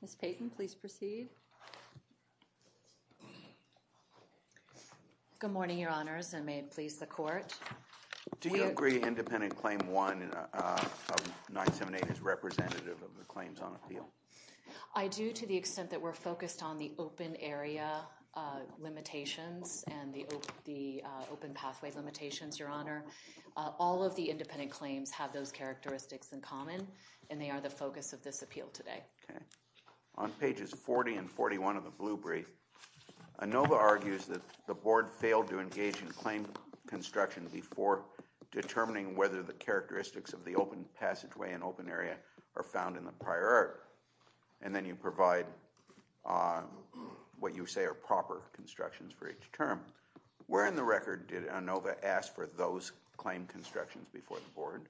Ms. Payton, please proceed. Good morning, Your Honors, and may it please the Court. Do you agree independent Claim 1 of 978 is representative of the claims on appeal? I do, to the extent that we're focused on the open area limitations and the open pathway limitations, Your Honor. All of the independent claims have those characteristics in common, and they are the focus of this appeal today. Okay. On pages 40 and 41 of the Blue Brief, Anova argues that the Board failed to engage in claim construction before determining whether the characteristics of the open passageway and open area are found in the prior art, and then you provide what you say are proper constructions for each term. Where in the record did Anova ask for those claim constructions before the Board?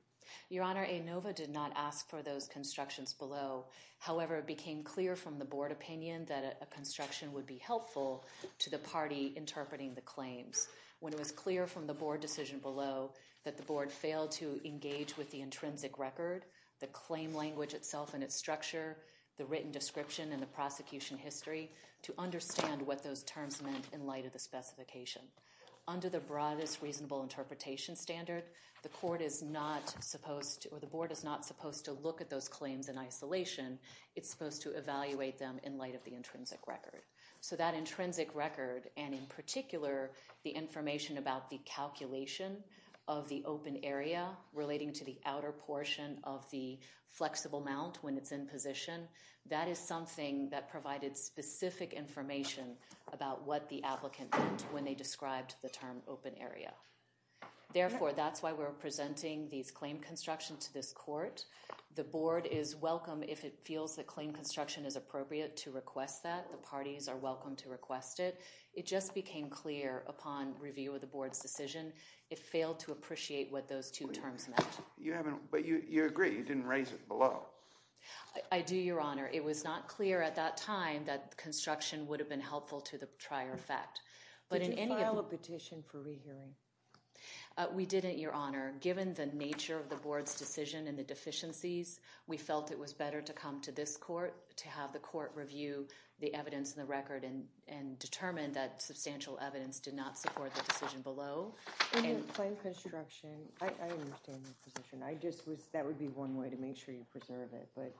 Your Honor, Anova did not ask for those constructions below. However, it became clear from the Board opinion that a construction would be helpful to the party interpreting the claims. When it was clear from the Board decision below that the Board failed to engage with the intrinsic record, the claim language itself and its structure, the written description and the prosecution history, to understand what those terms meant in light of the specification. Under the broadest reasonable interpretation standard, the Court is not supposed to, or the Board is not supposed to look at those claims in isolation. It's supposed to evaluate them in light of the intrinsic record. So that intrinsic record, and in particular, the information about the calculation of the outer portion of the flexible mount when it's in position, that is something that provided specific information about what the applicant meant when they described the term open area. Therefore, that's why we're presenting these claim constructions to this Court. The Board is welcome if it feels that claim construction is appropriate to request that. The parties are welcome to request it. It just became clear upon review of the Board's decision, it failed to appreciate what those two terms meant. But you agree, you didn't raise it below. I do, Your Honor. It was not clear at that time that construction would have been helpful to the prior effect. Did you file a petition for rehearing? We didn't, Your Honor. Given the nature of the Board's decision and the deficiencies, we felt it was better to come to this Court to have the Court review the evidence and the record and determine that substantial evidence did not support the decision below. In a claim construction, I understand your position. That would be one way to make sure you preserve it, but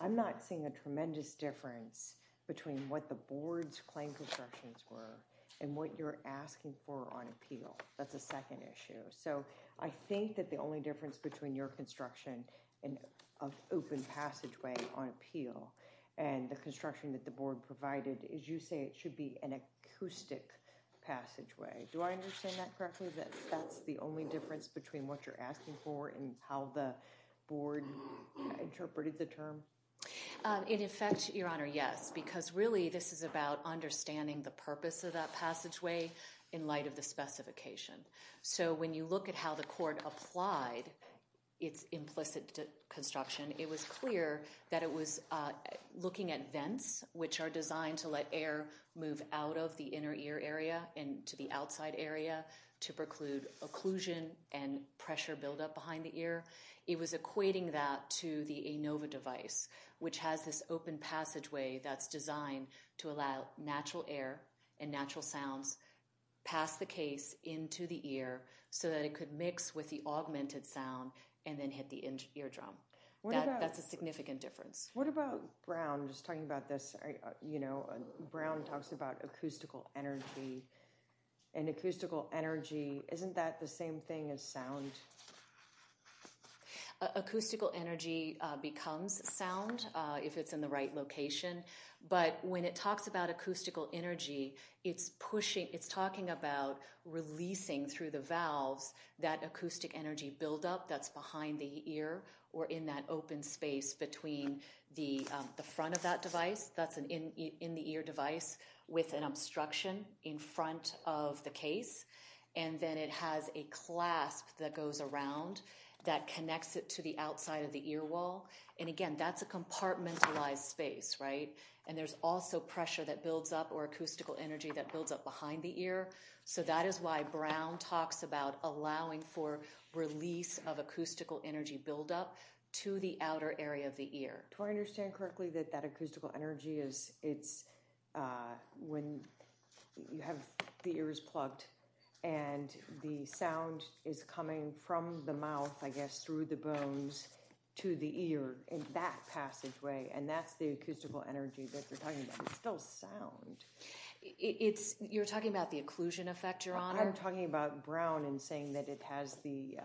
I'm not seeing a tremendous difference between what the Board's claim constructions were and what you're asking for on appeal. That's a second issue. So I think that the only difference between your construction and an open passageway on appeal and the construction that the Board provided is you say it should be an acoustic passageway. Do I understand that correctly? That that's the only difference between what you're asking for and how the Board interpreted the term? In effect, Your Honor, yes, because really this is about understanding the purpose of that passageway in light of the specification. So when you look at how the Court applied its implicit construction, it was clear that it was looking at vents, which are designed to let air move out of the inner ear area and to the outside area to preclude occlusion and pressure buildup behind the ear. It was equating that to the ANOVA device, which has this open passageway that's designed to allow natural air and natural sounds past the case into the ear so that it could mix with the augmented sound and then hit the eardrum. That's a significant difference. What about Brown? I'm just talking about this, you know, Brown talks about acoustical energy and acoustical energy, isn't that the same thing as sound? Acoustical energy becomes sound if it's in the right location. But when it talks about acoustical energy, it's pushing, it's talking about releasing through the valves that acoustic energy buildup that's behind the ear or in that open space between the front of that device, that's an in-the-ear device with an obstruction in front of the case, and then it has a clasp that goes around that connects it to the outside of the ear wall. And again, that's a compartmentalized space, right? And there's also pressure that builds up or acoustical energy that builds up behind the ear. So that is why Brown talks about allowing for release of acoustical energy buildup to the outer area of the ear. Do I understand correctly that that acoustical energy is, it's when you have the ears plugged and the sound is coming from the mouth, I guess, through the bones to the ear in that passageway, and that's the acoustical energy that they're talking about, it's still sound. You're talking about the occlusion effect, Your Honor? I'm talking about Brown and saying that it has the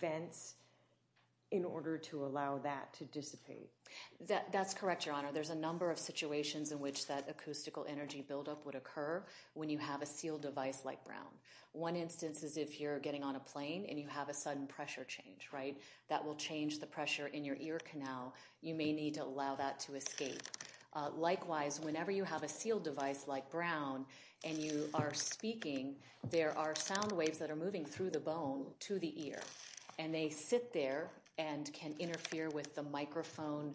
vents in order to allow that to dissipate. That's correct, Your Honor. There's a number of situations in which that acoustical energy buildup would occur when you have a sealed device like Brown. One instance is if you're getting on a plane and you have a sudden pressure change, right, that will change the pressure in your ear canal. You may need to allow that to escape. Likewise, whenever you have a sealed device like Brown and you are speaking, there are sound waves that are moving through the bone to the ear, and they sit there and can interfere with the microphone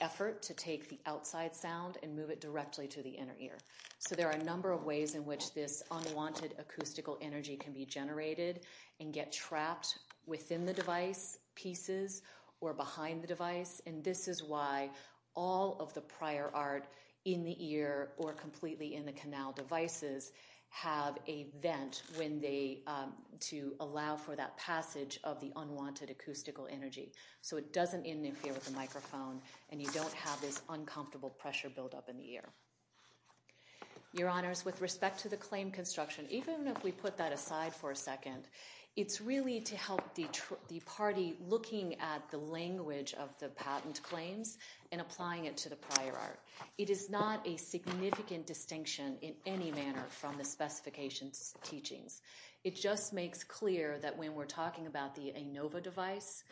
effort to take the outside sound and move it directly to the inner ear. So there are a number of ways in which this unwanted acoustical energy can be generated and get trapped within the device, pieces, or behind the device, and this is why all of the prior art in the ear or completely in the canal devices have a vent to allow for that passage of the unwanted acoustical energy. So it doesn't interfere with the microphone, and you don't have this uncomfortable pressure buildup in the ear. Your Honors, with respect to the claim construction, even if we put that aside for a second, it's really to help the party looking at the language of the patent claims and applying it to the prior art. It is not a significant distinction in any manner from the specifications teachings. It just makes clear that when we're talking about the ANOVA device,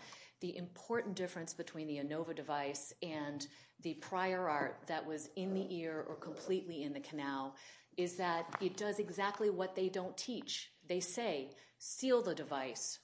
the important difference between the ANOVA device and the prior art that was in the ear or completely in the canal is that it does exactly what they don't teach. They say, seal the device.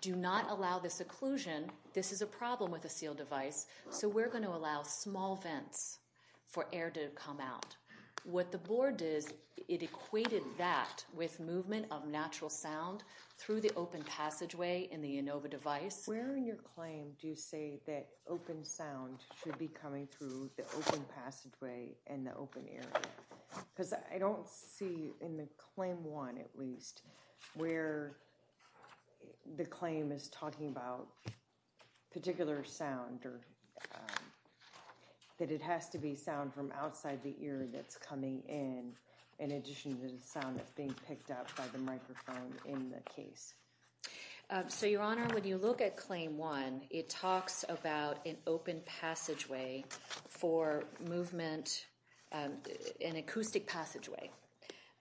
Do not allow this occlusion. This is a problem with a seal device, so we're going to allow small vents for air to come out. What the board did, it equated that with movement of natural sound through the open passageway in the ANOVA device. Where in your claim do you say that open sound should be coming through the open passageway and the open ear? I don't see in the claim one at least where the claim is talking about particular sound or that it has to be sound from outside the ear that's coming in, in addition to the sound that's being picked up by the microphone in the case. So Your Honor, when you look at claim one, it talks about an open passageway for movement, an acoustic passageway,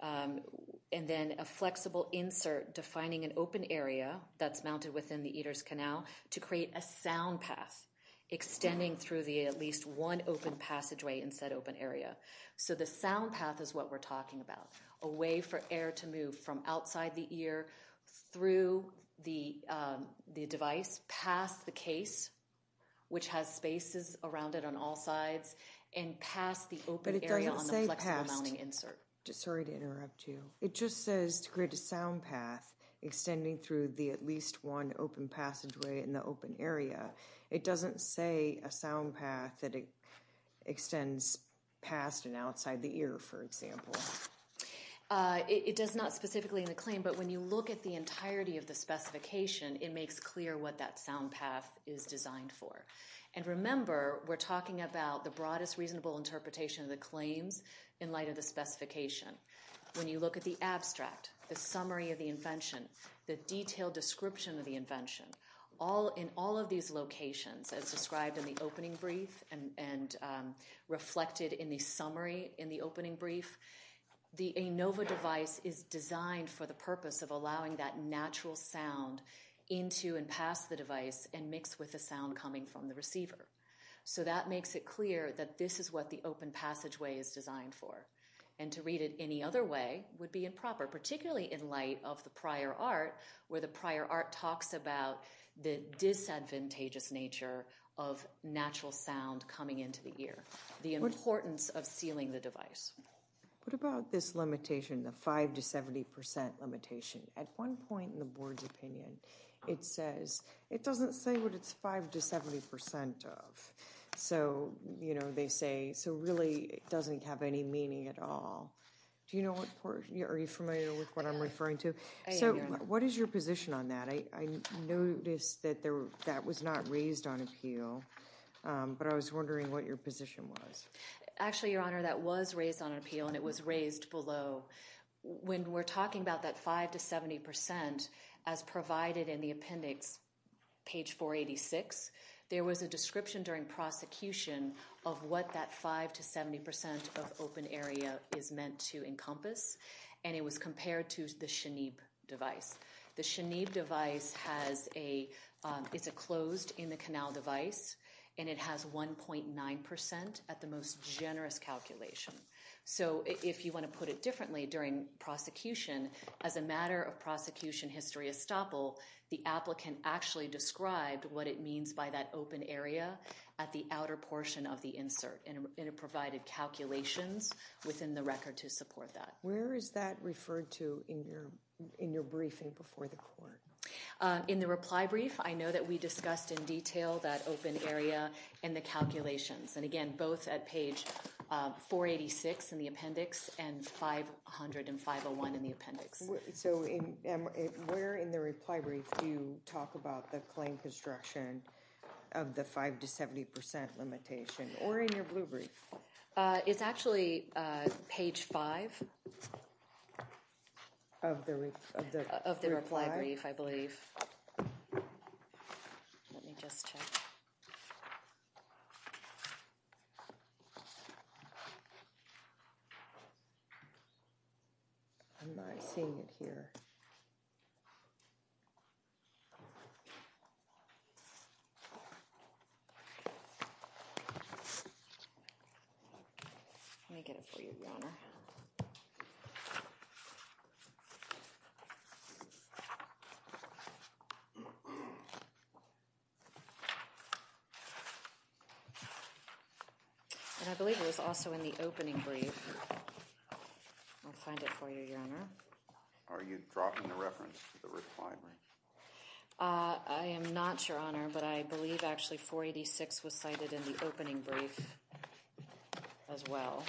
and then a flexible insert defining an open area that's mounted within the Eater's Canal to create a sound path extending through the at least one open passageway in said open area. So the sound path is what we're talking about, a way for air to move from outside the ear through the device, past the case, which has spaces around it on all sides, and past the open area on the flexible mounting insert. But it doesn't say past. Sorry to interrupt you. It just says to create a sound path extending through the at least one open passageway in the open area. It doesn't say a sound path that extends past and outside the ear, for example. It does not specifically in the claim, but when you look at the entirety of the specification, it makes clear what that sound path is designed for. And remember, we're talking about the broadest reasonable interpretation of the claims in light of the specification. When you look at the abstract, the summary of the invention, the detailed description of the invention, in all of these locations, as described in the opening brief and reflected in the summary in the opening brief, the ANOVA device is designed for the purpose of allowing that natural sound into and past the device and mixed with the sound coming from the receiver. So that makes it clear that this is what the open passageway is designed for. And to read it any other way would be improper, particularly in light of the prior art, where the prior art talks about the disadvantageous nature of natural sound coming into the ear. The importance of sealing the device. What about this limitation, the 5 to 70% limitation? At one point in the board's opinion, it says it doesn't say what it's 5 to 70% of. So you know, they say, so really it doesn't have any meaning at all. Do you know what, are you familiar with what I'm referring to? So what is your position on that? I noticed that that was not raised on appeal. But I was wondering what your position was. Actually, Your Honor, that was raised on appeal and it was raised below. When we're talking about that 5 to 70%, as provided in the appendix, page 486, there was a description during prosecution of what that 5 to 70% of open area is meant to encompass. And it was compared to the SHANEEB device. The SHANEEB device has a, it's a closed in the canal device. And it has 1.9% at the most generous calculation. So if you want to put it differently during prosecution, as a matter of prosecution history estoppel, the applicant actually described what it means by that open area at the outer portion of the insert. And it provided calculations within the record to support that. Where is that referred to in your briefing before the court? In the reply brief, I know that we discussed in detail that open area and the calculations. And again, both at page 486 in the appendix and 50501 in the appendix. So where in the reply brief do you talk about the claim construction of the 5 to 70% limitation? Or in your blue brief? It's actually page five. Of the reply brief, I believe. Let me just check. I'm not seeing it here. Let me get it for you, Your Honor. And I believe it was also in the opening brief. I'll find it for you, Your Honor. Are you dropping the reference to the reply brief? I am not, Your Honor. But I believe, actually, 486 was cited in the opening brief as well.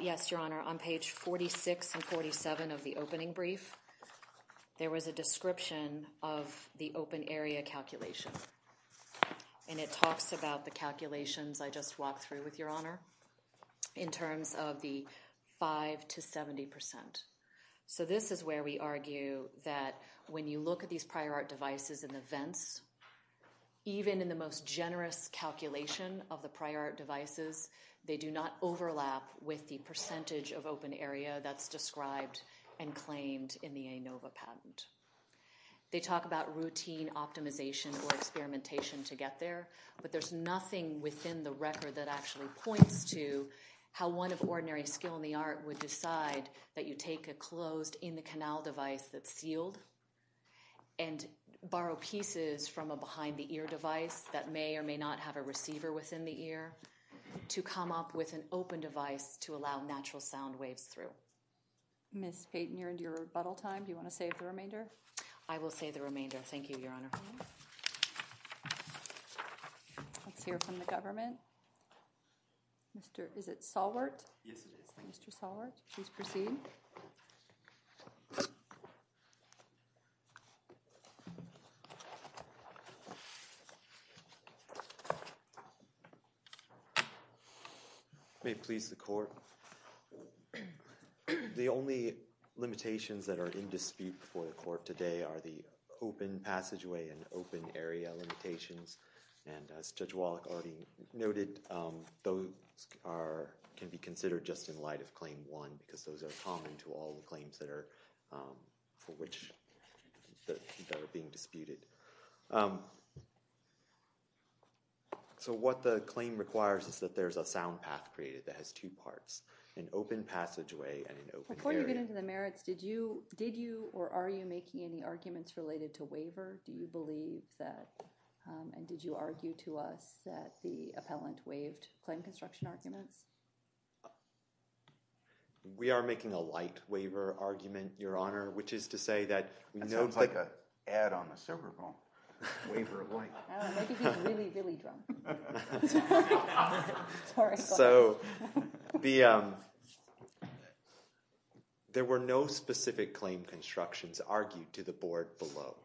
Yes, Your Honor. On page 46 and 47 of the opening brief, there was a description of the open area calculation. And it talks about the calculations I just walked through with Your Honor in terms of the 5 to 70%. So this is where we argue that when you look at these prior art devices and events, even in the most generous calculation of the prior art devices, they do not overlap with the percentage of open area that's described and claimed in the ANOVA patent. They talk about routine optimization or experimentation to get there. But there's nothing within the record that actually points to how one of ordinary skill in the art would decide that you take a closed in-the-canal device that's sealed and borrow pieces from a behind-the-ear device that may or may not have a receiver within the ear to come up with an open device to allow natural sound waves through. Ms. Payton, you're into your rebuttal time. Do you want to save the remainder? I will save the remainder. Thank you, Your Honor. Let's hear from the government. Is it Solwart? Yes, it is. Mr. Solwart, please proceed. May it please the court, the only limitations that are in dispute before the court today are the open passageway and open area limitations. And as Judge Wallach already noted, those can be considered just in light of Claim 1 because those are common to all the claims that are being disputed. So what the claim requires is that there's a sound path created that has two parts, an open passageway and an open area. Before you get into the merits, did you or are you making any arguments related to waiver? Do you believe that, and did you argue to us that the appellant waived claim construction arguments? We are making a light waiver argument, Your Honor, which is to say that we know that there were no specific claim constructions argued to the board below,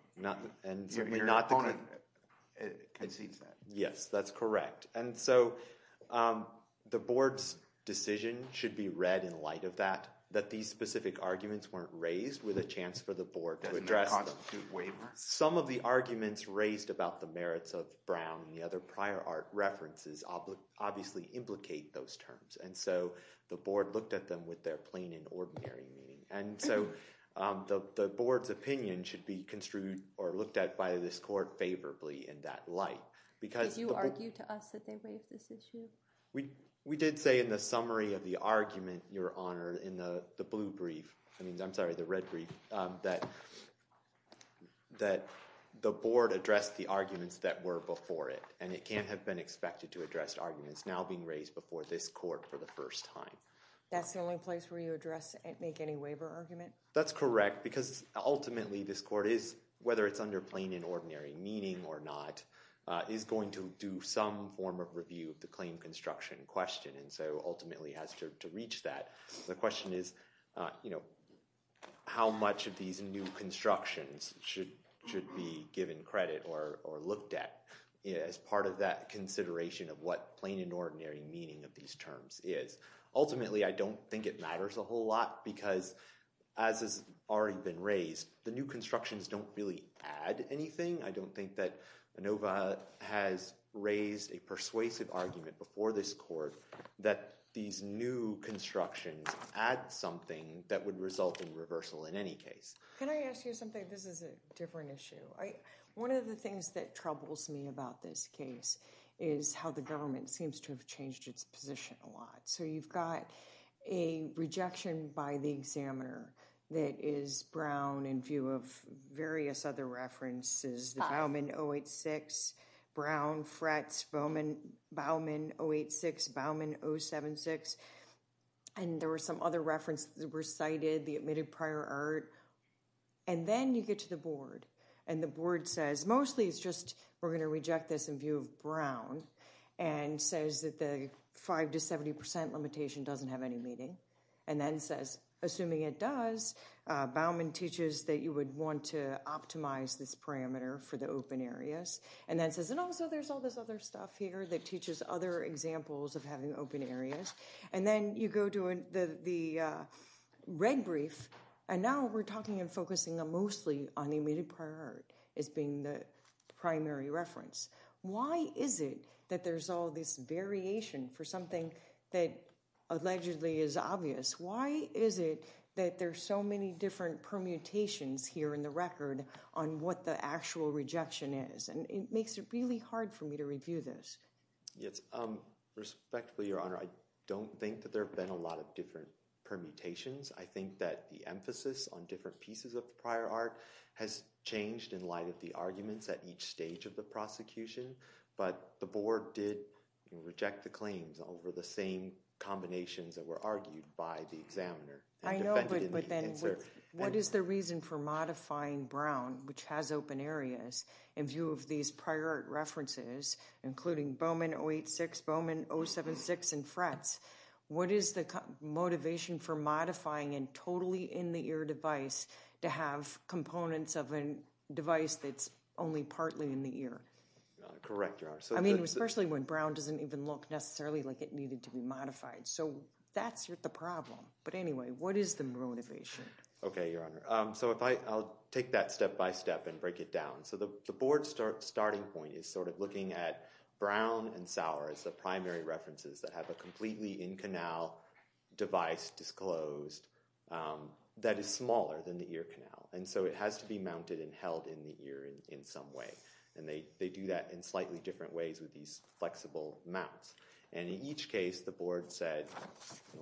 and certainly not the claim. Your opponent concedes that. Yes, that's correct. And so the board's decision should be read in light of that, that these specific arguments weren't raised with a chance for the board to address them. That's not a dispute waiver? Some of the arguments raised about the merits of Brown and the other prior art references obviously implicate those terms. And so the board looked at them with their plain and ordinary meaning. And so the board's opinion should be construed or looked at by this court favorably in that light Did you argue to us that they waived this issue? We did say in the summary of the argument, Your Honor, in the blue brief, I mean, I'm sorry, the red brief, that the board addressed the arguments that were before it. And it can't have been expected to address arguments now being raised before this court for the first time. That's the only place where you address and make any waiver argument? That's correct. Because ultimately, this court is, whether it's under plain and ordinary meaning or not, is going to do some form of review of the claim construction question. And so ultimately, it has to reach that. The question is, how much of these new constructions should be given credit or looked at as part of that consideration of what plain and ordinary meaning of these terms is? Ultimately, I don't think it matters a whole lot. Because as has already been raised, the new constructions don't really add anything. I don't think that Inova has raised a persuasive argument before this court that these new constructions add something that would result in reversal in any case. Can I ask you something? This is a different issue. One of the things that troubles me about this case is how the government seems to have changed its position a lot. So you've got a rejection by the examiner that is Brown in view of various other references, the Bauman 086, Brown, Fretz, Bauman 086, Bauman 076. And there were some other references that were cited, the admitted prior art. And then you get to the board. And the board says, mostly it's just we're going to reject this in view of Brown, and says that the 5% to 70% limitation doesn't have any meaning. And then says, assuming it does, Bauman teaches that you would want to optimize this parameter for the open areas. And then says, and also there's all this other stuff here that teaches other examples of having open areas. And then you go to the red brief. And now we're talking and focusing mostly on the admitted prior art as being the primary reference. Why is it that there's all this variation for something that allegedly is obvious? Why is it that there's so many different permutations here in the record on what the actual rejection is? And it makes it really hard for me to review this. Yes, respectfully, Your Honor, I don't think that there have been a lot of different permutations. I think that the emphasis on different pieces of prior art has changed in light of the arguments at each stage of the prosecution. But the board did reject the claims over the same combinations that were argued by the examiner. I know, but then what is the reason for modifying Brown, which has open areas, in view of these prior art references, including Bauman 086, Bauman 076, and Fretz? What is the motivation for modifying a totally in-the-ear device to have components of a device that's only partly in the ear? Correct, Your Honor. I mean, especially when Brown doesn't even look necessarily like it needed to be modified. So that's the problem. But anyway, what is the motivation? OK, Your Honor. So I'll take that step by step and break it down. So the board's starting point is sort of looking at Brown and Sauer as the primary references that have a completely in-canal device disclosed that is smaller than the ear canal. And so it has to be mounted and held in the ear in some way. And they do that in slightly different ways with these flexible mounts. And in each case, the board said,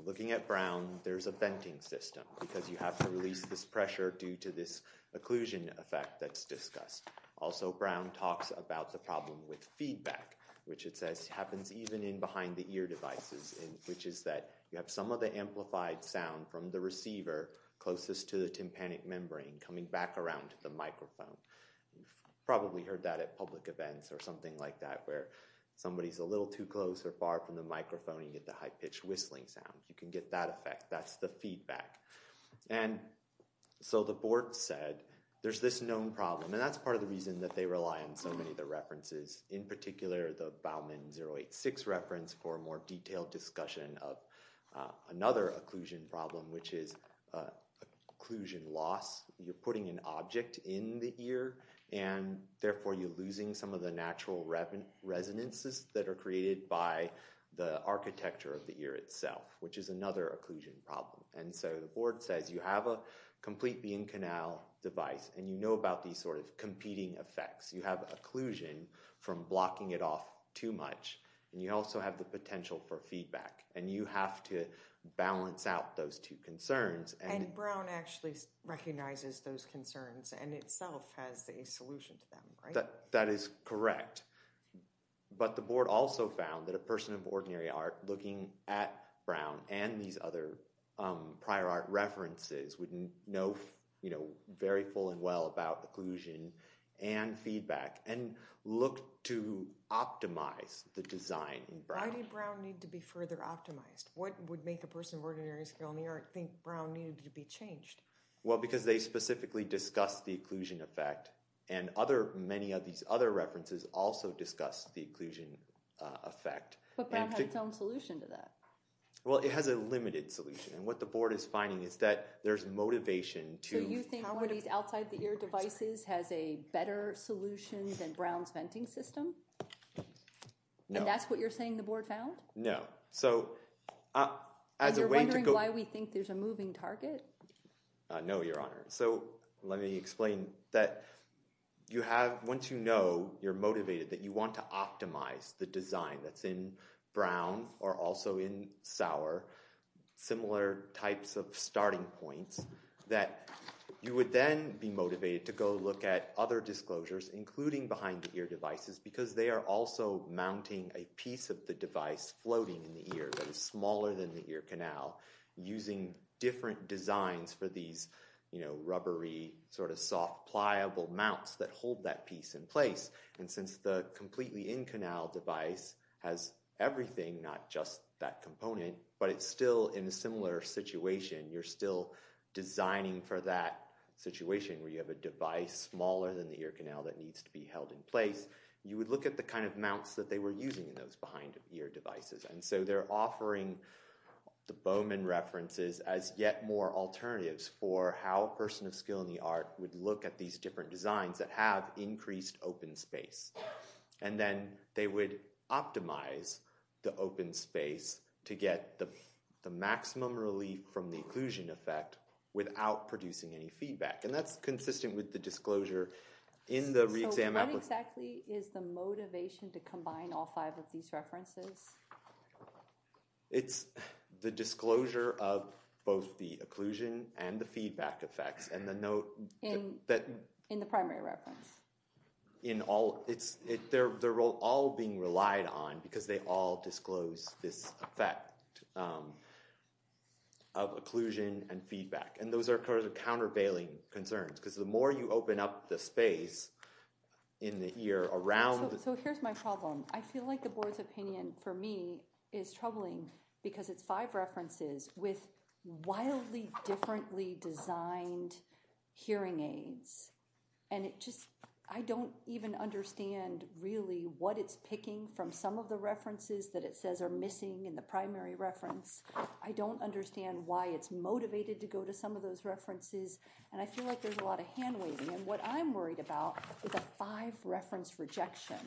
looking at Brown, there's a venting system, because you have to release this pressure due to this occlusion effect that's discussed. Also, Brown talks about the problem with feedback, which it says happens even in behind-the-ear devices, which is that you have some of the amplified sound from the receiver closest to the tympanic membrane coming back around to the microphone. You've probably heard that at public events or something like that, where somebody's a little too close or far from the microphone, you get the high-pitched whistling sound. You can get that effect. That's the feedback. And so the board said, there's this known problem. And that's part of the reason that they rely on so many of the references, in particular the Bauman 086 reference for a more detailed discussion of another occlusion problem, which is occlusion loss. You're putting an object in the ear, and therefore, you're losing some of the natural resonances that are created by the architecture of the ear itself, which is another occlusion problem. And so the board says, you have a complete beam canal device, and you know about these sort of competing effects. You have occlusion from blocking it off too much. And you also have the potential for feedback. And you have to balance out those two concerns. And Brown actually recognizes those concerns and itself has a solution to them, right? That is correct. But the board also found that a person of ordinary art looking at Brown and these other prior art references would know very full and well about occlusion and feedback and look to optimize the design in Brown. Why did Brown need to be further optimized? What would make a person of ordinary skill in the art think Brown needed to be changed? Well, because they specifically discussed the occlusion effect. And many of these other references also discussed the occlusion effect. But Brown had its own solution to that. Well, it has a limited solution. And what the board is finding is that there's motivation to how outside the ear devices has a better solution than Brown's venting system. And that's what you're saying the board found? No. So as a way to go. And you're wondering why we think there's a moving target? No, Your Honor. So let me explain that you have, once you know you're motivated, that you want to optimize the design that's in Brown or also in Sauer, similar types of starting points, that you would then be motivated to go look at other disclosures, including behind the ear devices, because they are also mounting a piece of the device floating in the ear that is smaller than the ear canal, using different designs for these rubbery, sort of soft pliable mounts that hold that piece in place. And since the completely in-canal device has everything, not just that component, but it's still in a similar situation, you're still designing for that situation where you have a device smaller than the ear canal that needs to be held in place, you would look at the kind of mounts that they were using in those behind the ear devices. And so they're offering the Bowman references as yet more alternatives for how a person of skill in the art would look at these different designs that have increased open space. And then they would optimize the open space to get the maximum relief from the occlusion effect without producing any feedback. And that's consistent with the disclosure in the re-exam application. So what exactly is the motivation to combine all five of these references? It's the disclosure of both the occlusion and the feedback effects. And the note that- In the primary reference. In all. They're all being relied on, because they all this effect of occlusion and feedback. And those are countervailing concerns, because the more you open up the space in the ear around- So here's my problem. I feel like the board's opinion, for me, is troubling, because it's five references with wildly differently designed hearing aids. And I don't even understand, really, what it's picking from some of the references that it says are missing in the primary reference. I don't understand why it's motivated to go to some of those references. And I feel like there's a lot of hand-waving. And what I'm worried about with a five-reference rejection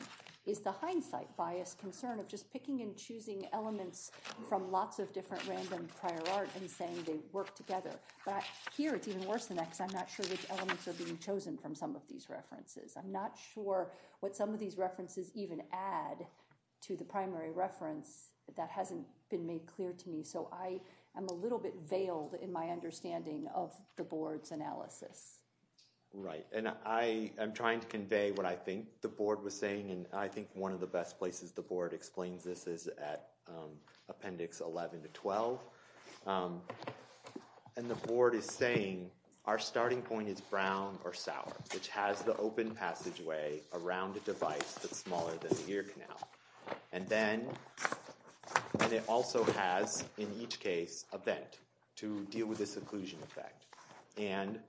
is the hindsight bias concern of just picking and choosing elements from lots of different random prior art and saying they work together. But here, it's even worse than that, because I'm not sure which elements are being chosen from some of these references. I'm not sure what some of these references even add to the primary reference that hasn't been made clear to me. So I am a little bit veiled in my understanding of the board's analysis. Right. And I am trying to convey what I think the board was saying. And I think one of the best places the board explains this is at appendix 11 to 12. And the board is saying, our starting point is brown or sour, which has the open passageway around a device that's smaller than the ear canal. And then it also has, in each case, a vent to deal with this occlusion effect. And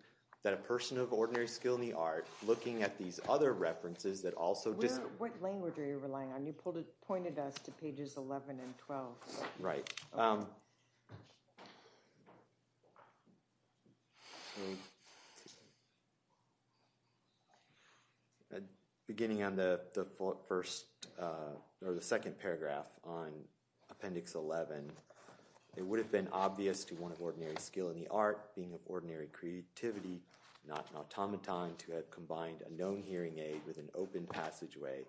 that a person of ordinary skill in the art, looking at these other references that also just What language are you relying on? You pointed us to pages 11 and 12. Right. Beginning on the second paragraph on appendix 11, it would have been obvious to one of ordinary skill in the art, being of ordinary creativity, not an automaton, to have combined a known hearing aid with an open passageway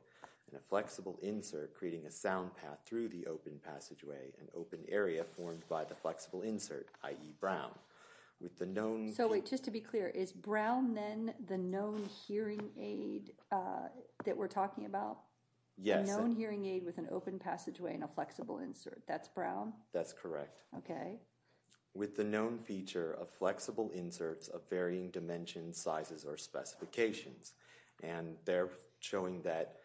and a flexible insert, creating a sound path through the open passageway, an open area formed by the flexible insert, i.e. brown, with the known. So wait, just to be clear, is brown then the known hearing aid that we're talking about? Yes. The known hearing aid with an open passageway and a flexible insert. That's brown? That's correct. OK. With the known feature of flexible inserts of varying dimensions, sizes, or specifications. And they're showing that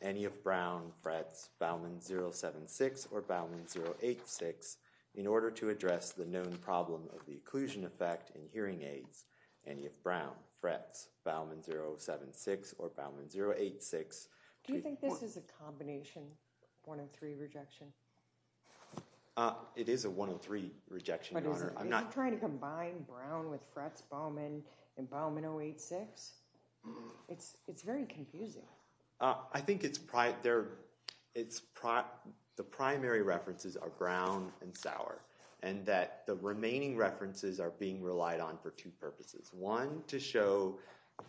any of brown frets Bauman 076 or Bauman 086, in order to address the known problem of the occlusion effect in hearing aids, any of brown frets Bauman 076 or Bauman 086. Do you think this is a combination, 103 rejection? It is a 103 rejection, Your Honor. I'm not trying to combine brown with frets Bauman and Bauman 086. It's very confusing. I think the primary references are brown and sour. And that the remaining references are being relied on for two purposes. One, to show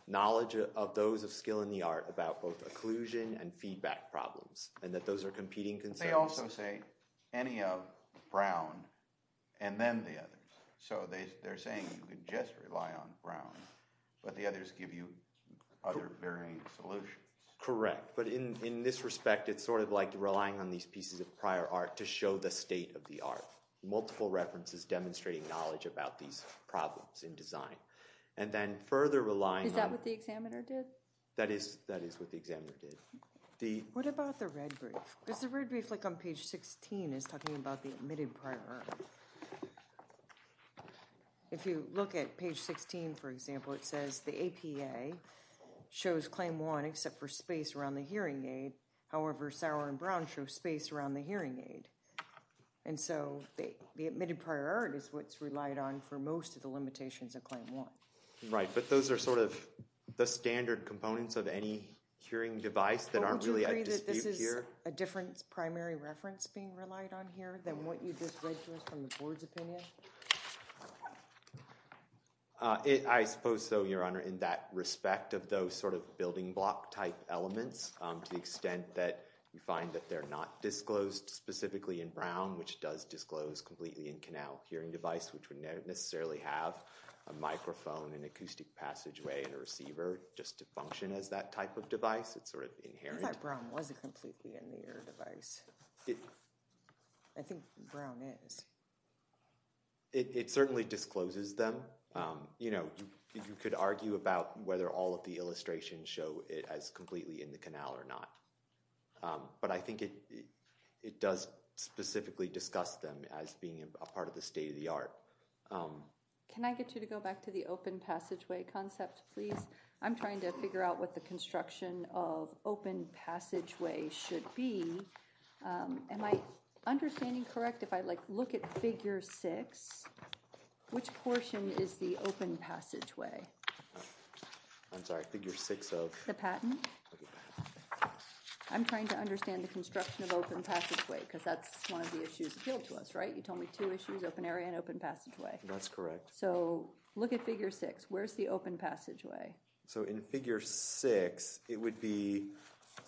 knowledge of those of skill in the art about both occlusion and feedback problems, and that those are competing concerns. They also say any of brown, and then the others. So they're saying you can just rely on brown, but the others give you other varying solutions. Correct. But in this respect, it's sort of like relying on these pieces of prior art to show the state of the art. Multiple references demonstrating knowledge about these problems in design. And then further relying on. Is that what the examiner did? That is what the examiner did. What about the red brief? Because the red brief on page 16 is talking about the admitted prior art. If you look at page 16, for example, it says the APA shows claim one, except for space around the hearing aid. However, sour and brown show space around the hearing aid. And so the admitted prior art is what's relied on for most of the limitations of claim one. Right. But those are sort of the standard components of any hearing device that aren't really at dispute here. Don't you agree that this is a different primary reference being relied on here than what you just read to us from the board's opinion? I suppose so, Your Honor, in that respect of those sort of building block type elements, to the extent that you find that they're not disclosed specifically in brown, which does disclose completely in canal hearing device, which would not necessarily have a microphone, an acoustic passageway, and a receiver just to function as that type of device. It's sort of inherent. I thought brown wasn't completely in the ear device. I think brown is. It certainly discloses them. You could argue about whether all of the illustrations show it as completely in the canal or not. But I think it does specifically discuss them as being a part of the state of the art. Can I get you to go back to the open passageway concept, please? I'm trying to figure out what the construction of open passageway should be. Am I understanding correct? If I look at figure six, which portion is the open passageway? I'm sorry, figure six of? The patent. I'm trying to understand the construction of open passageway because that's one of the issues appealed to us, right? You told me two issues, open area and open passageway. That's correct. So look at figure six. Where's the open passageway? So in figure six, it would be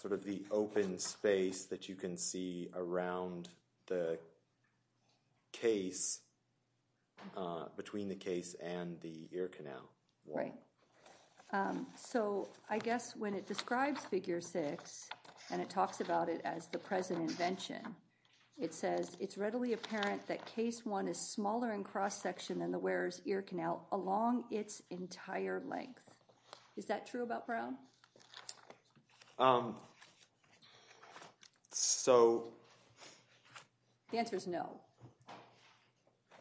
sort of the open space that you can see around the case, between the case and the ear canal. Right. So I guess when it describes figure six and it talks about it as the present invention, it says, it's readily apparent that case one is smaller in cross-section than the wearer's ear canal along its entire length. Is that true about Brown? So. The answer is no.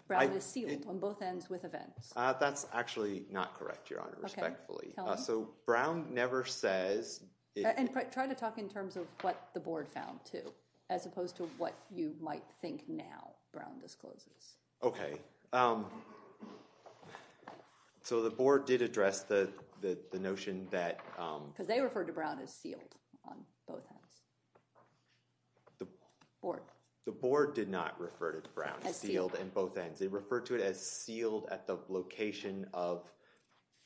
Brown is sealed on both ends with events. That's actually not correct, Your Honor, respectfully. So Brown never says it's. And try to talk in terms of what the board found, too, as opposed to what you might think now Brown discloses. OK. So the board did address the notion that. Because they referred to Brown as sealed on both ends. The board. The board did not refer to Brown as sealed on both ends. They referred to it as sealed at the location of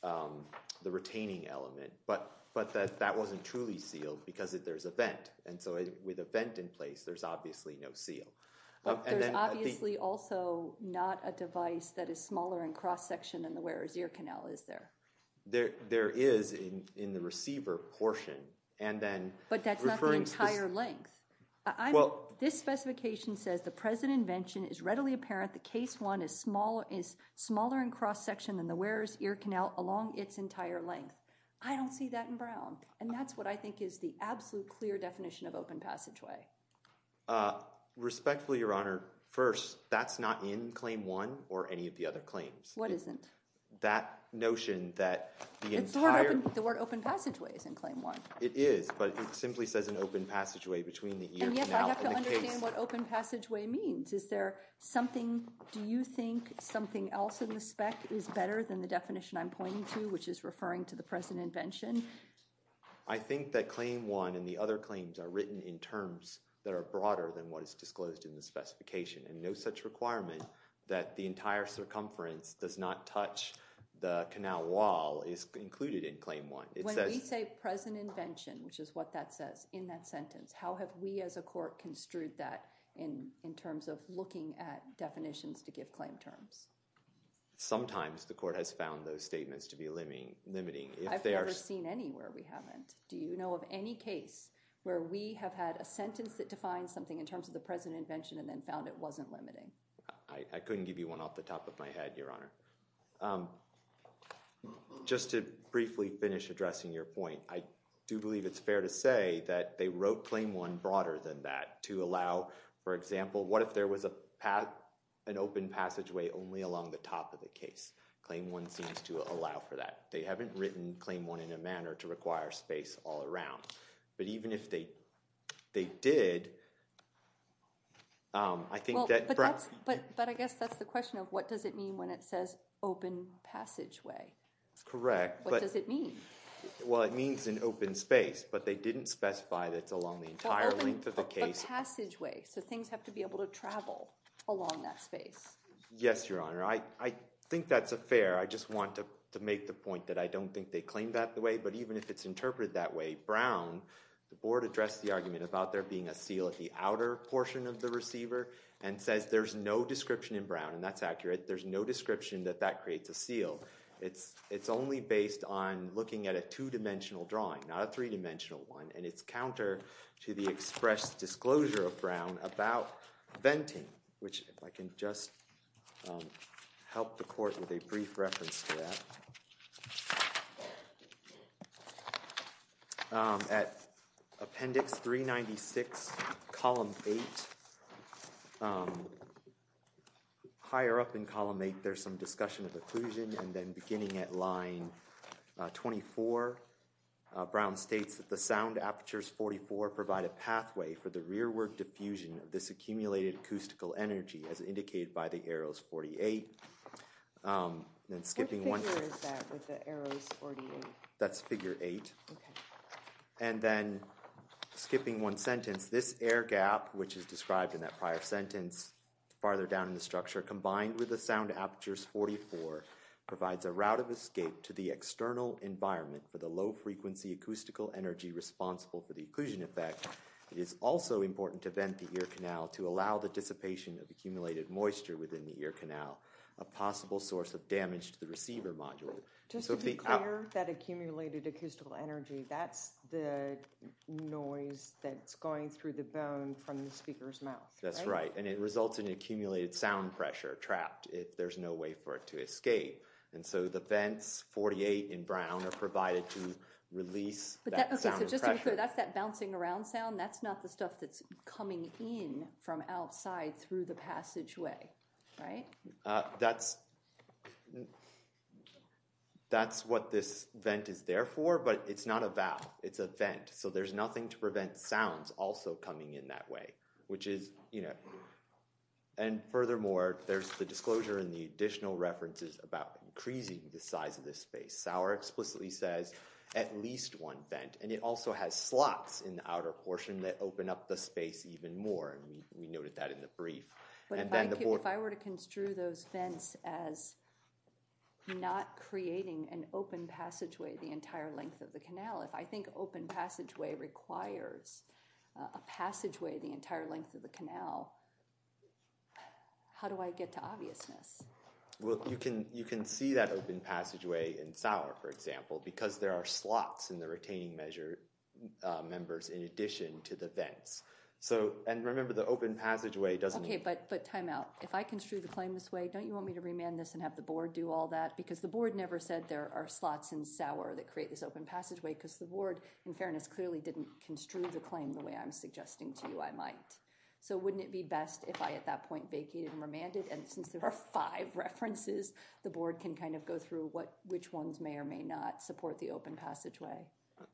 the retaining element. But that wasn't truly sealed, because there's a vent. And so with a vent in place, there's obviously no seal. There's obviously also not a device that is smaller in cross-section than the wearer's ear canal, is there? There is in the receiver portion. And then. But that's not the entire length. This specification says, the present invention is readily apparent that case one is smaller in cross-section than the wearer's ear canal along its entire length. I don't see that in Brown. And that's what I think is the absolute clear definition of open passageway. Respectfully, Your Honor, first, that's not in claim one or any of the other claims. What isn't? That notion that the entire. The word open passageway is in claim one. It is, but it simply says an open passageway between the ear canal and the case. And yet I have to understand what open passageway means. Is there something, do you think something else in the spec is better than the definition I'm present invention? I think that claim one and the other claims are written in terms that are broader than what is disclosed in the specification. And no such requirement that the entire circumference does not touch the canal wall is included in claim one. When we say present invention, which is what that says in that sentence, how have we as a court construed that in terms of looking at definitions to give claim terms? Sometimes the court has found those statements to be limiting. I've never seen any where we haven't. Do you know of any case where we have had a sentence that defines something in terms of the present invention and then found it wasn't limiting? I couldn't give you one off the top of my head, Your Honor. Just to briefly finish addressing your point, I do believe it's fair to say that they wrote claim one broader than that to allow, for example, what if there was an open passageway only along the top of the case? Claim one seems to allow for that. They haven't written claim one in a manner to require space all around. But even if they did, I think that perhaps. But I guess that's the question of what does it mean when it says open passageway? Correct. What does it mean? Well, it means an open space. But they didn't specify that it's along the entire length of the case. But open passageway. So things have to be able to travel along that space. Yes, Your Honor. I think that's a fair. I just want to make the point that I don't think they claim that the way. But even if it's interpreted that way, Brown, the board addressed the argument about there being a seal at the outer portion of the receiver and says there's no description in Brown. And that's accurate. There's no description that that creates a seal. It's only based on looking at a two-dimensional drawing, not a three-dimensional one. And it's counter to the express disclosure of Brown about venting, which if I can just help the court with a brief reference to that. At appendix 396, column 8, higher up in column 8, there's some discussion of occlusion. And then beginning at line 24, Brown states that the sound apertures 44 provide a pathway for the rearward diffusion of this accumulated acoustical energy, as indicated by the arrows 48. Then skipping one. What figure is that with the arrows 48? That's figure 8. And then skipping one sentence, this air gap, which is described in that prior sentence farther down in the structure, combined with the sound apertures 44 provides a route of escape to the external environment for the low frequency acoustical energy responsible for the occlusion effect. It is also important to vent the ear canal to allow the dissipation of accumulated moisture within the ear canal, a possible source of damage to the receiver module. Just to be clear, that accumulated acoustical energy, that's the noise that's going through the bone from the speaker's mouth. That's right. And it results in accumulated sound pressure trapped. There's no way for it to escape. And so the vents 48 in Brown are provided to release that sound pressure. OK, so just to be clear, that's that bouncing around sound. That's not the stuff that's coming in from outside through the passageway, right? That's what this vent is there for. But it's not a valve. It's a vent. So there's nothing to prevent sounds also coming in that way, which is, you know. And furthermore, there's the disclosure in the additional references about increasing the size of this space. Sauer explicitly says, at least one vent. And it also has slots in the outer portion that open up the space even more. We noted that in the brief. But if I were to construe those vents as not creating an open passageway the entire length of the canal, if I think open passageway requires a passageway the entire length of the canal, how do I get to obviousness? Well, you can see that open passageway in Sauer, for example, because there are slots in the retaining members in addition to the vents. And remember, the open passageway doesn't mean. OK, but time out. If I construe the claim this way, don't you want me to remand this and have the board do all that? Because the board never said there are slots in Sauer that create this open passageway. Because the board, in fairness, clearly didn't construe the claim the way I'm suggesting to you I might. So wouldn't it be best if I, at that point, vacated and remanded and since there are five references, the board can kind of go through which ones may or may not support the open passageway?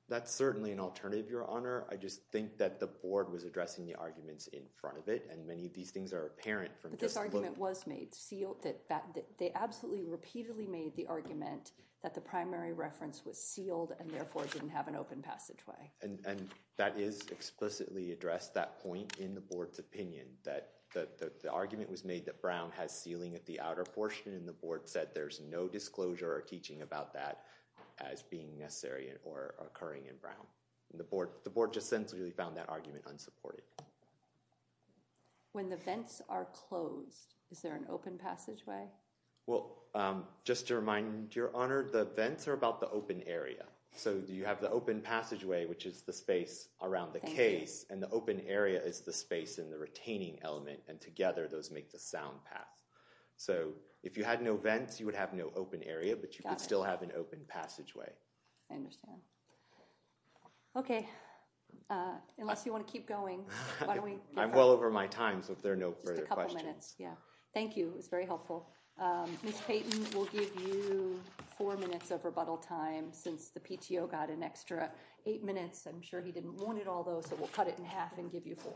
That's certainly an alternative, Your Honor. I just think that the board was addressing the arguments in front of it. And many of these things are apparent from just looking. But this argument was made. They absolutely repeatedly made the argument that the primary reference was sealed and therefore didn't have an open passageway. And that is explicitly addressed, that point in the board's opinion, that the argument was made that Brown has sealing at the outer portion. And the board said there's no disclosure or teaching about that as being necessary or occurring in Brown. The board just sensibly found that argument unsupported. When the vents are closed, is there an open passageway? Well, just to remind you, Your Honor, the vents are about the open area. So you have the open passageway, which is the space around the case. And the open area is the space in the retaining element. And together, those make the sound path. So if you had no vents, you would have no open area. But you could still have an open passageway. I understand. OK. Unless you want to keep going, why don't we get going? I'm well over my time. So if there are no further questions. Just a couple minutes. Yeah. Thank you. It was very helpful. Ms. Payton will give you four minutes of rebuttal time since the PTO got an extra eight minutes. I'm sure he didn't want it all, though. So we'll cut it in half and give you four.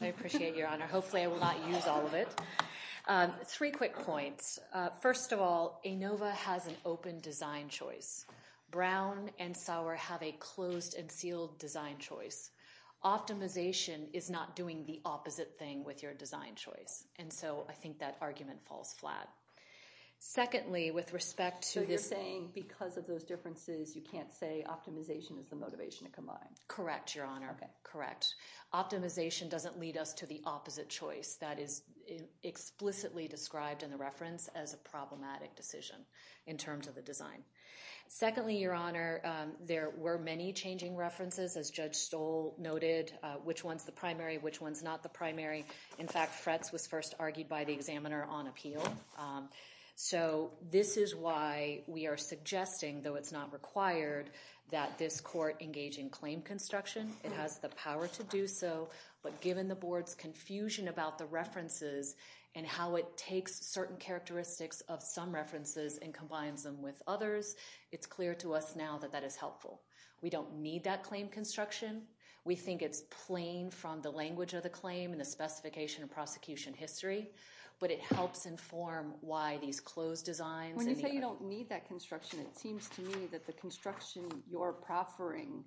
I appreciate it, Your Honor. Hopefully, I will not use all of it. Three quick points. First of all, ANOVA has an open design choice. Brown and Sauer have a closed and sealed design choice. Optimization is not doing the opposite thing with your design choice. And so I think that argument falls flat. Secondly, with respect to this thing, because of those differences, you can't say optimization is the motivation to combine. Correct, Your Honor. Correct. Optimization doesn't lead us to the opposite choice. That is explicitly described in the reference as a problematic decision in terms of the design. Secondly, Your Honor, there were many changing references, as Judge Stoll noted. Which one's the primary? Which one's not the primary? In fact, Fretz was first argued by the examiner on appeal. So this is why we are suggesting, though it's not required, that this court engage in claim construction. It has the power to do so. But given the board's confusion about the references and how it takes certain characteristics of some references and combines them with others, it's clear to us now that that is helpful. We don't need that claim construction. We think it's plain from the language of the claim and the specification of prosecution history. But it helps inform why these closed designs and the other. When you say you don't need that construction, it seems to me that the construction you're proffering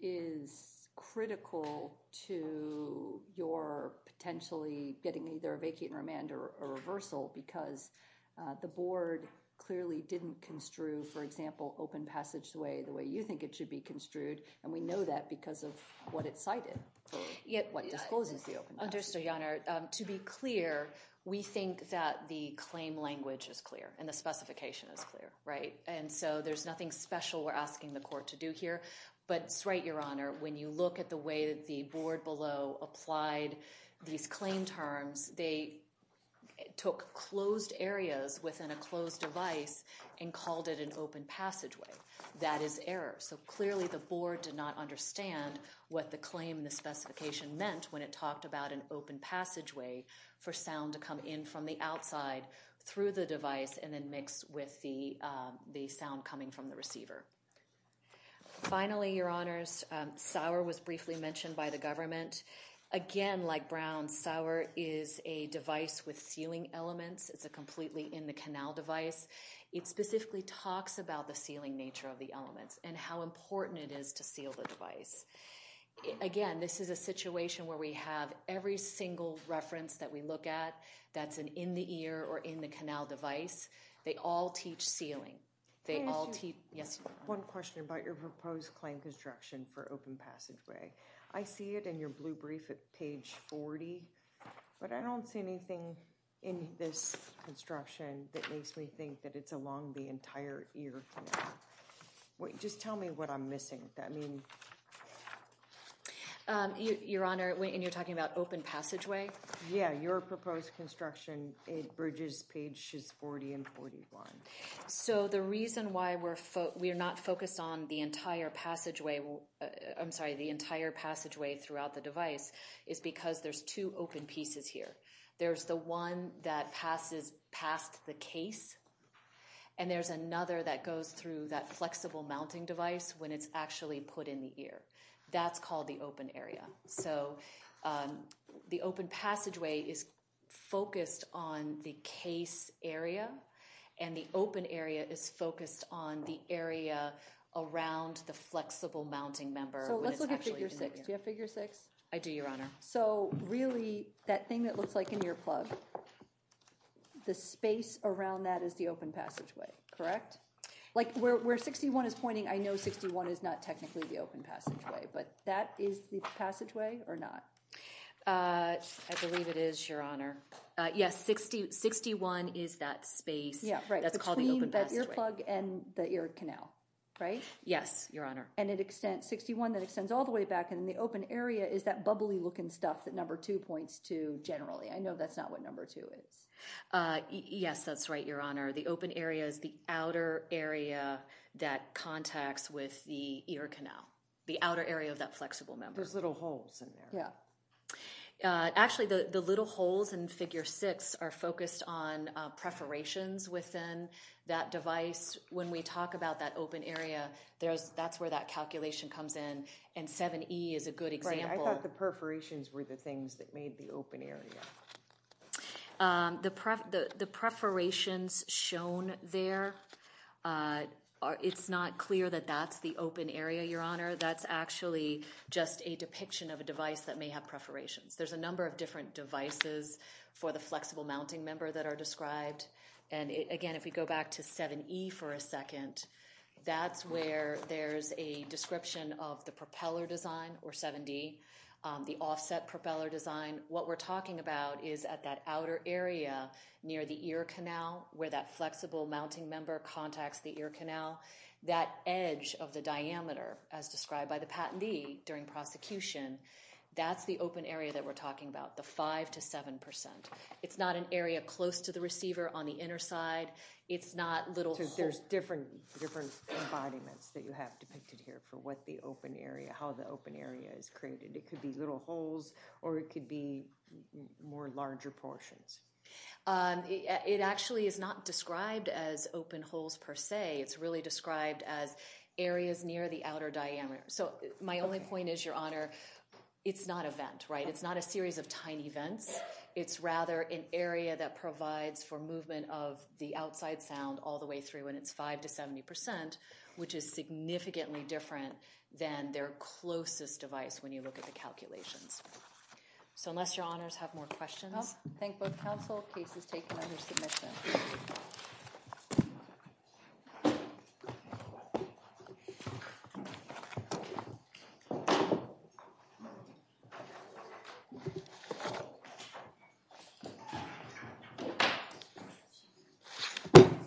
is critical to your potentially getting either a vacate and remand or a reversal because the board clearly didn't construe, for example, open passage the way you think it should be construed. And we know that because of what it cited, what discloses the open passage. To be clear, we think that the claim language is clear and the specification is clear. And so there's nothing special we're asking the court to do here. But it's right, Your Honor. When you look at the way that the board below applied these claim terms, they took closed areas within a closed device and called it an open passageway. That is error. So clearly, the board did not understand what the claim and the specification meant when it talked about an open passageway for sound to come in from the outside through the device and then mix with the sound coming from the receiver. Finally, Your Honors, Sour was briefly mentioned by the government. Again, like Brown, Sour is a device with sealing elements. It's a completely in-the-canal device. It specifically talks about the sealing nature of the elements and how important it is to seal the device. Again, this is a situation where we have every single reference that we look at that's an in-the-ear or in-the-canal device. They all teach sealing. They all teach. Yes? One question about your proposed claim construction for open passageway. I see it in your blue brief at page 40, but I don't see anything in this construction that makes me think that it's along the entire ear canal. Just tell me what I'm missing. I mean. Your Honor, and you're talking about open passageway? Yeah, your proposed construction bridges pages 40 and 41. So the reason why we're not focused on the entire passageway throughout the device is because there's two open pieces here. There's the one that passes past the case, and there's another that goes through that flexible mounting device when it's actually put in the ear. That's called the open area. So the open passageway is focused on the case area, and the open area is focused on the area around the flexible mounting member when it's actually in the ear. So let's look at figure six. Do you have figure six? I do, your Honor. So really, that thing that looks like an ear plug, the space around that is the open passageway, correct? Like, where 61 is pointing, I know 61 is not technically the open passageway, but that is the passageway or not? I believe it is, your Honor. Yes, 61 is that space that's called the open passageway. Between that ear plug and the ear canal, right? Yes, your Honor. And 61, that extends all the way back, and the open area is that bubbly looking stuff that number two points to generally. I know that's not what number two is. Yes, that's right, your Honor. The open area is the outer area that contacts with the ear canal. The outer area of that flexible member. There's little holes in there. Yeah. Actually, the little holes in figure six are focused on perforations within that device. When we talk about that open area, that's where that calculation comes in, and 7E is a good example. Right, I thought the perforations were the things that made the open area. The perforations shown there, it's not clear that that's the open area, your Honor. That's actually just a depiction of a device that may have perforations. There's a number of different devices for the flexible mounting member that are described. And again, if we go back to 7E for a second, that's where there's a description of the propeller design, or 7D, the offset propeller design. What we're talking about is at that outer area near the ear canal where that flexible mounting member contacts the ear canal. That edge of the diameter, as described by the patentee during prosecution, that's the open area that we're talking about, the 5% to 7%. It's not an area close to the receiver on the inner side. It's not little holes. So there's different embodiments that you have depicted here for what the open area, how the open area is created. It could be little holes, or it could be more larger portions. It actually is not described as open holes per se. It's really described as areas near the outer diameter. So my only point is, Your Honor, it's not a vent, right? It's not a series of tiny vents. It's rather an area that provides for movement of the outside sound all the way through when it's 5% to 70%, which is significantly different than their closest device when you look at the calculations. So unless Your Honors have more questions. Thank both counsel. Case is taken under submission. Thank you.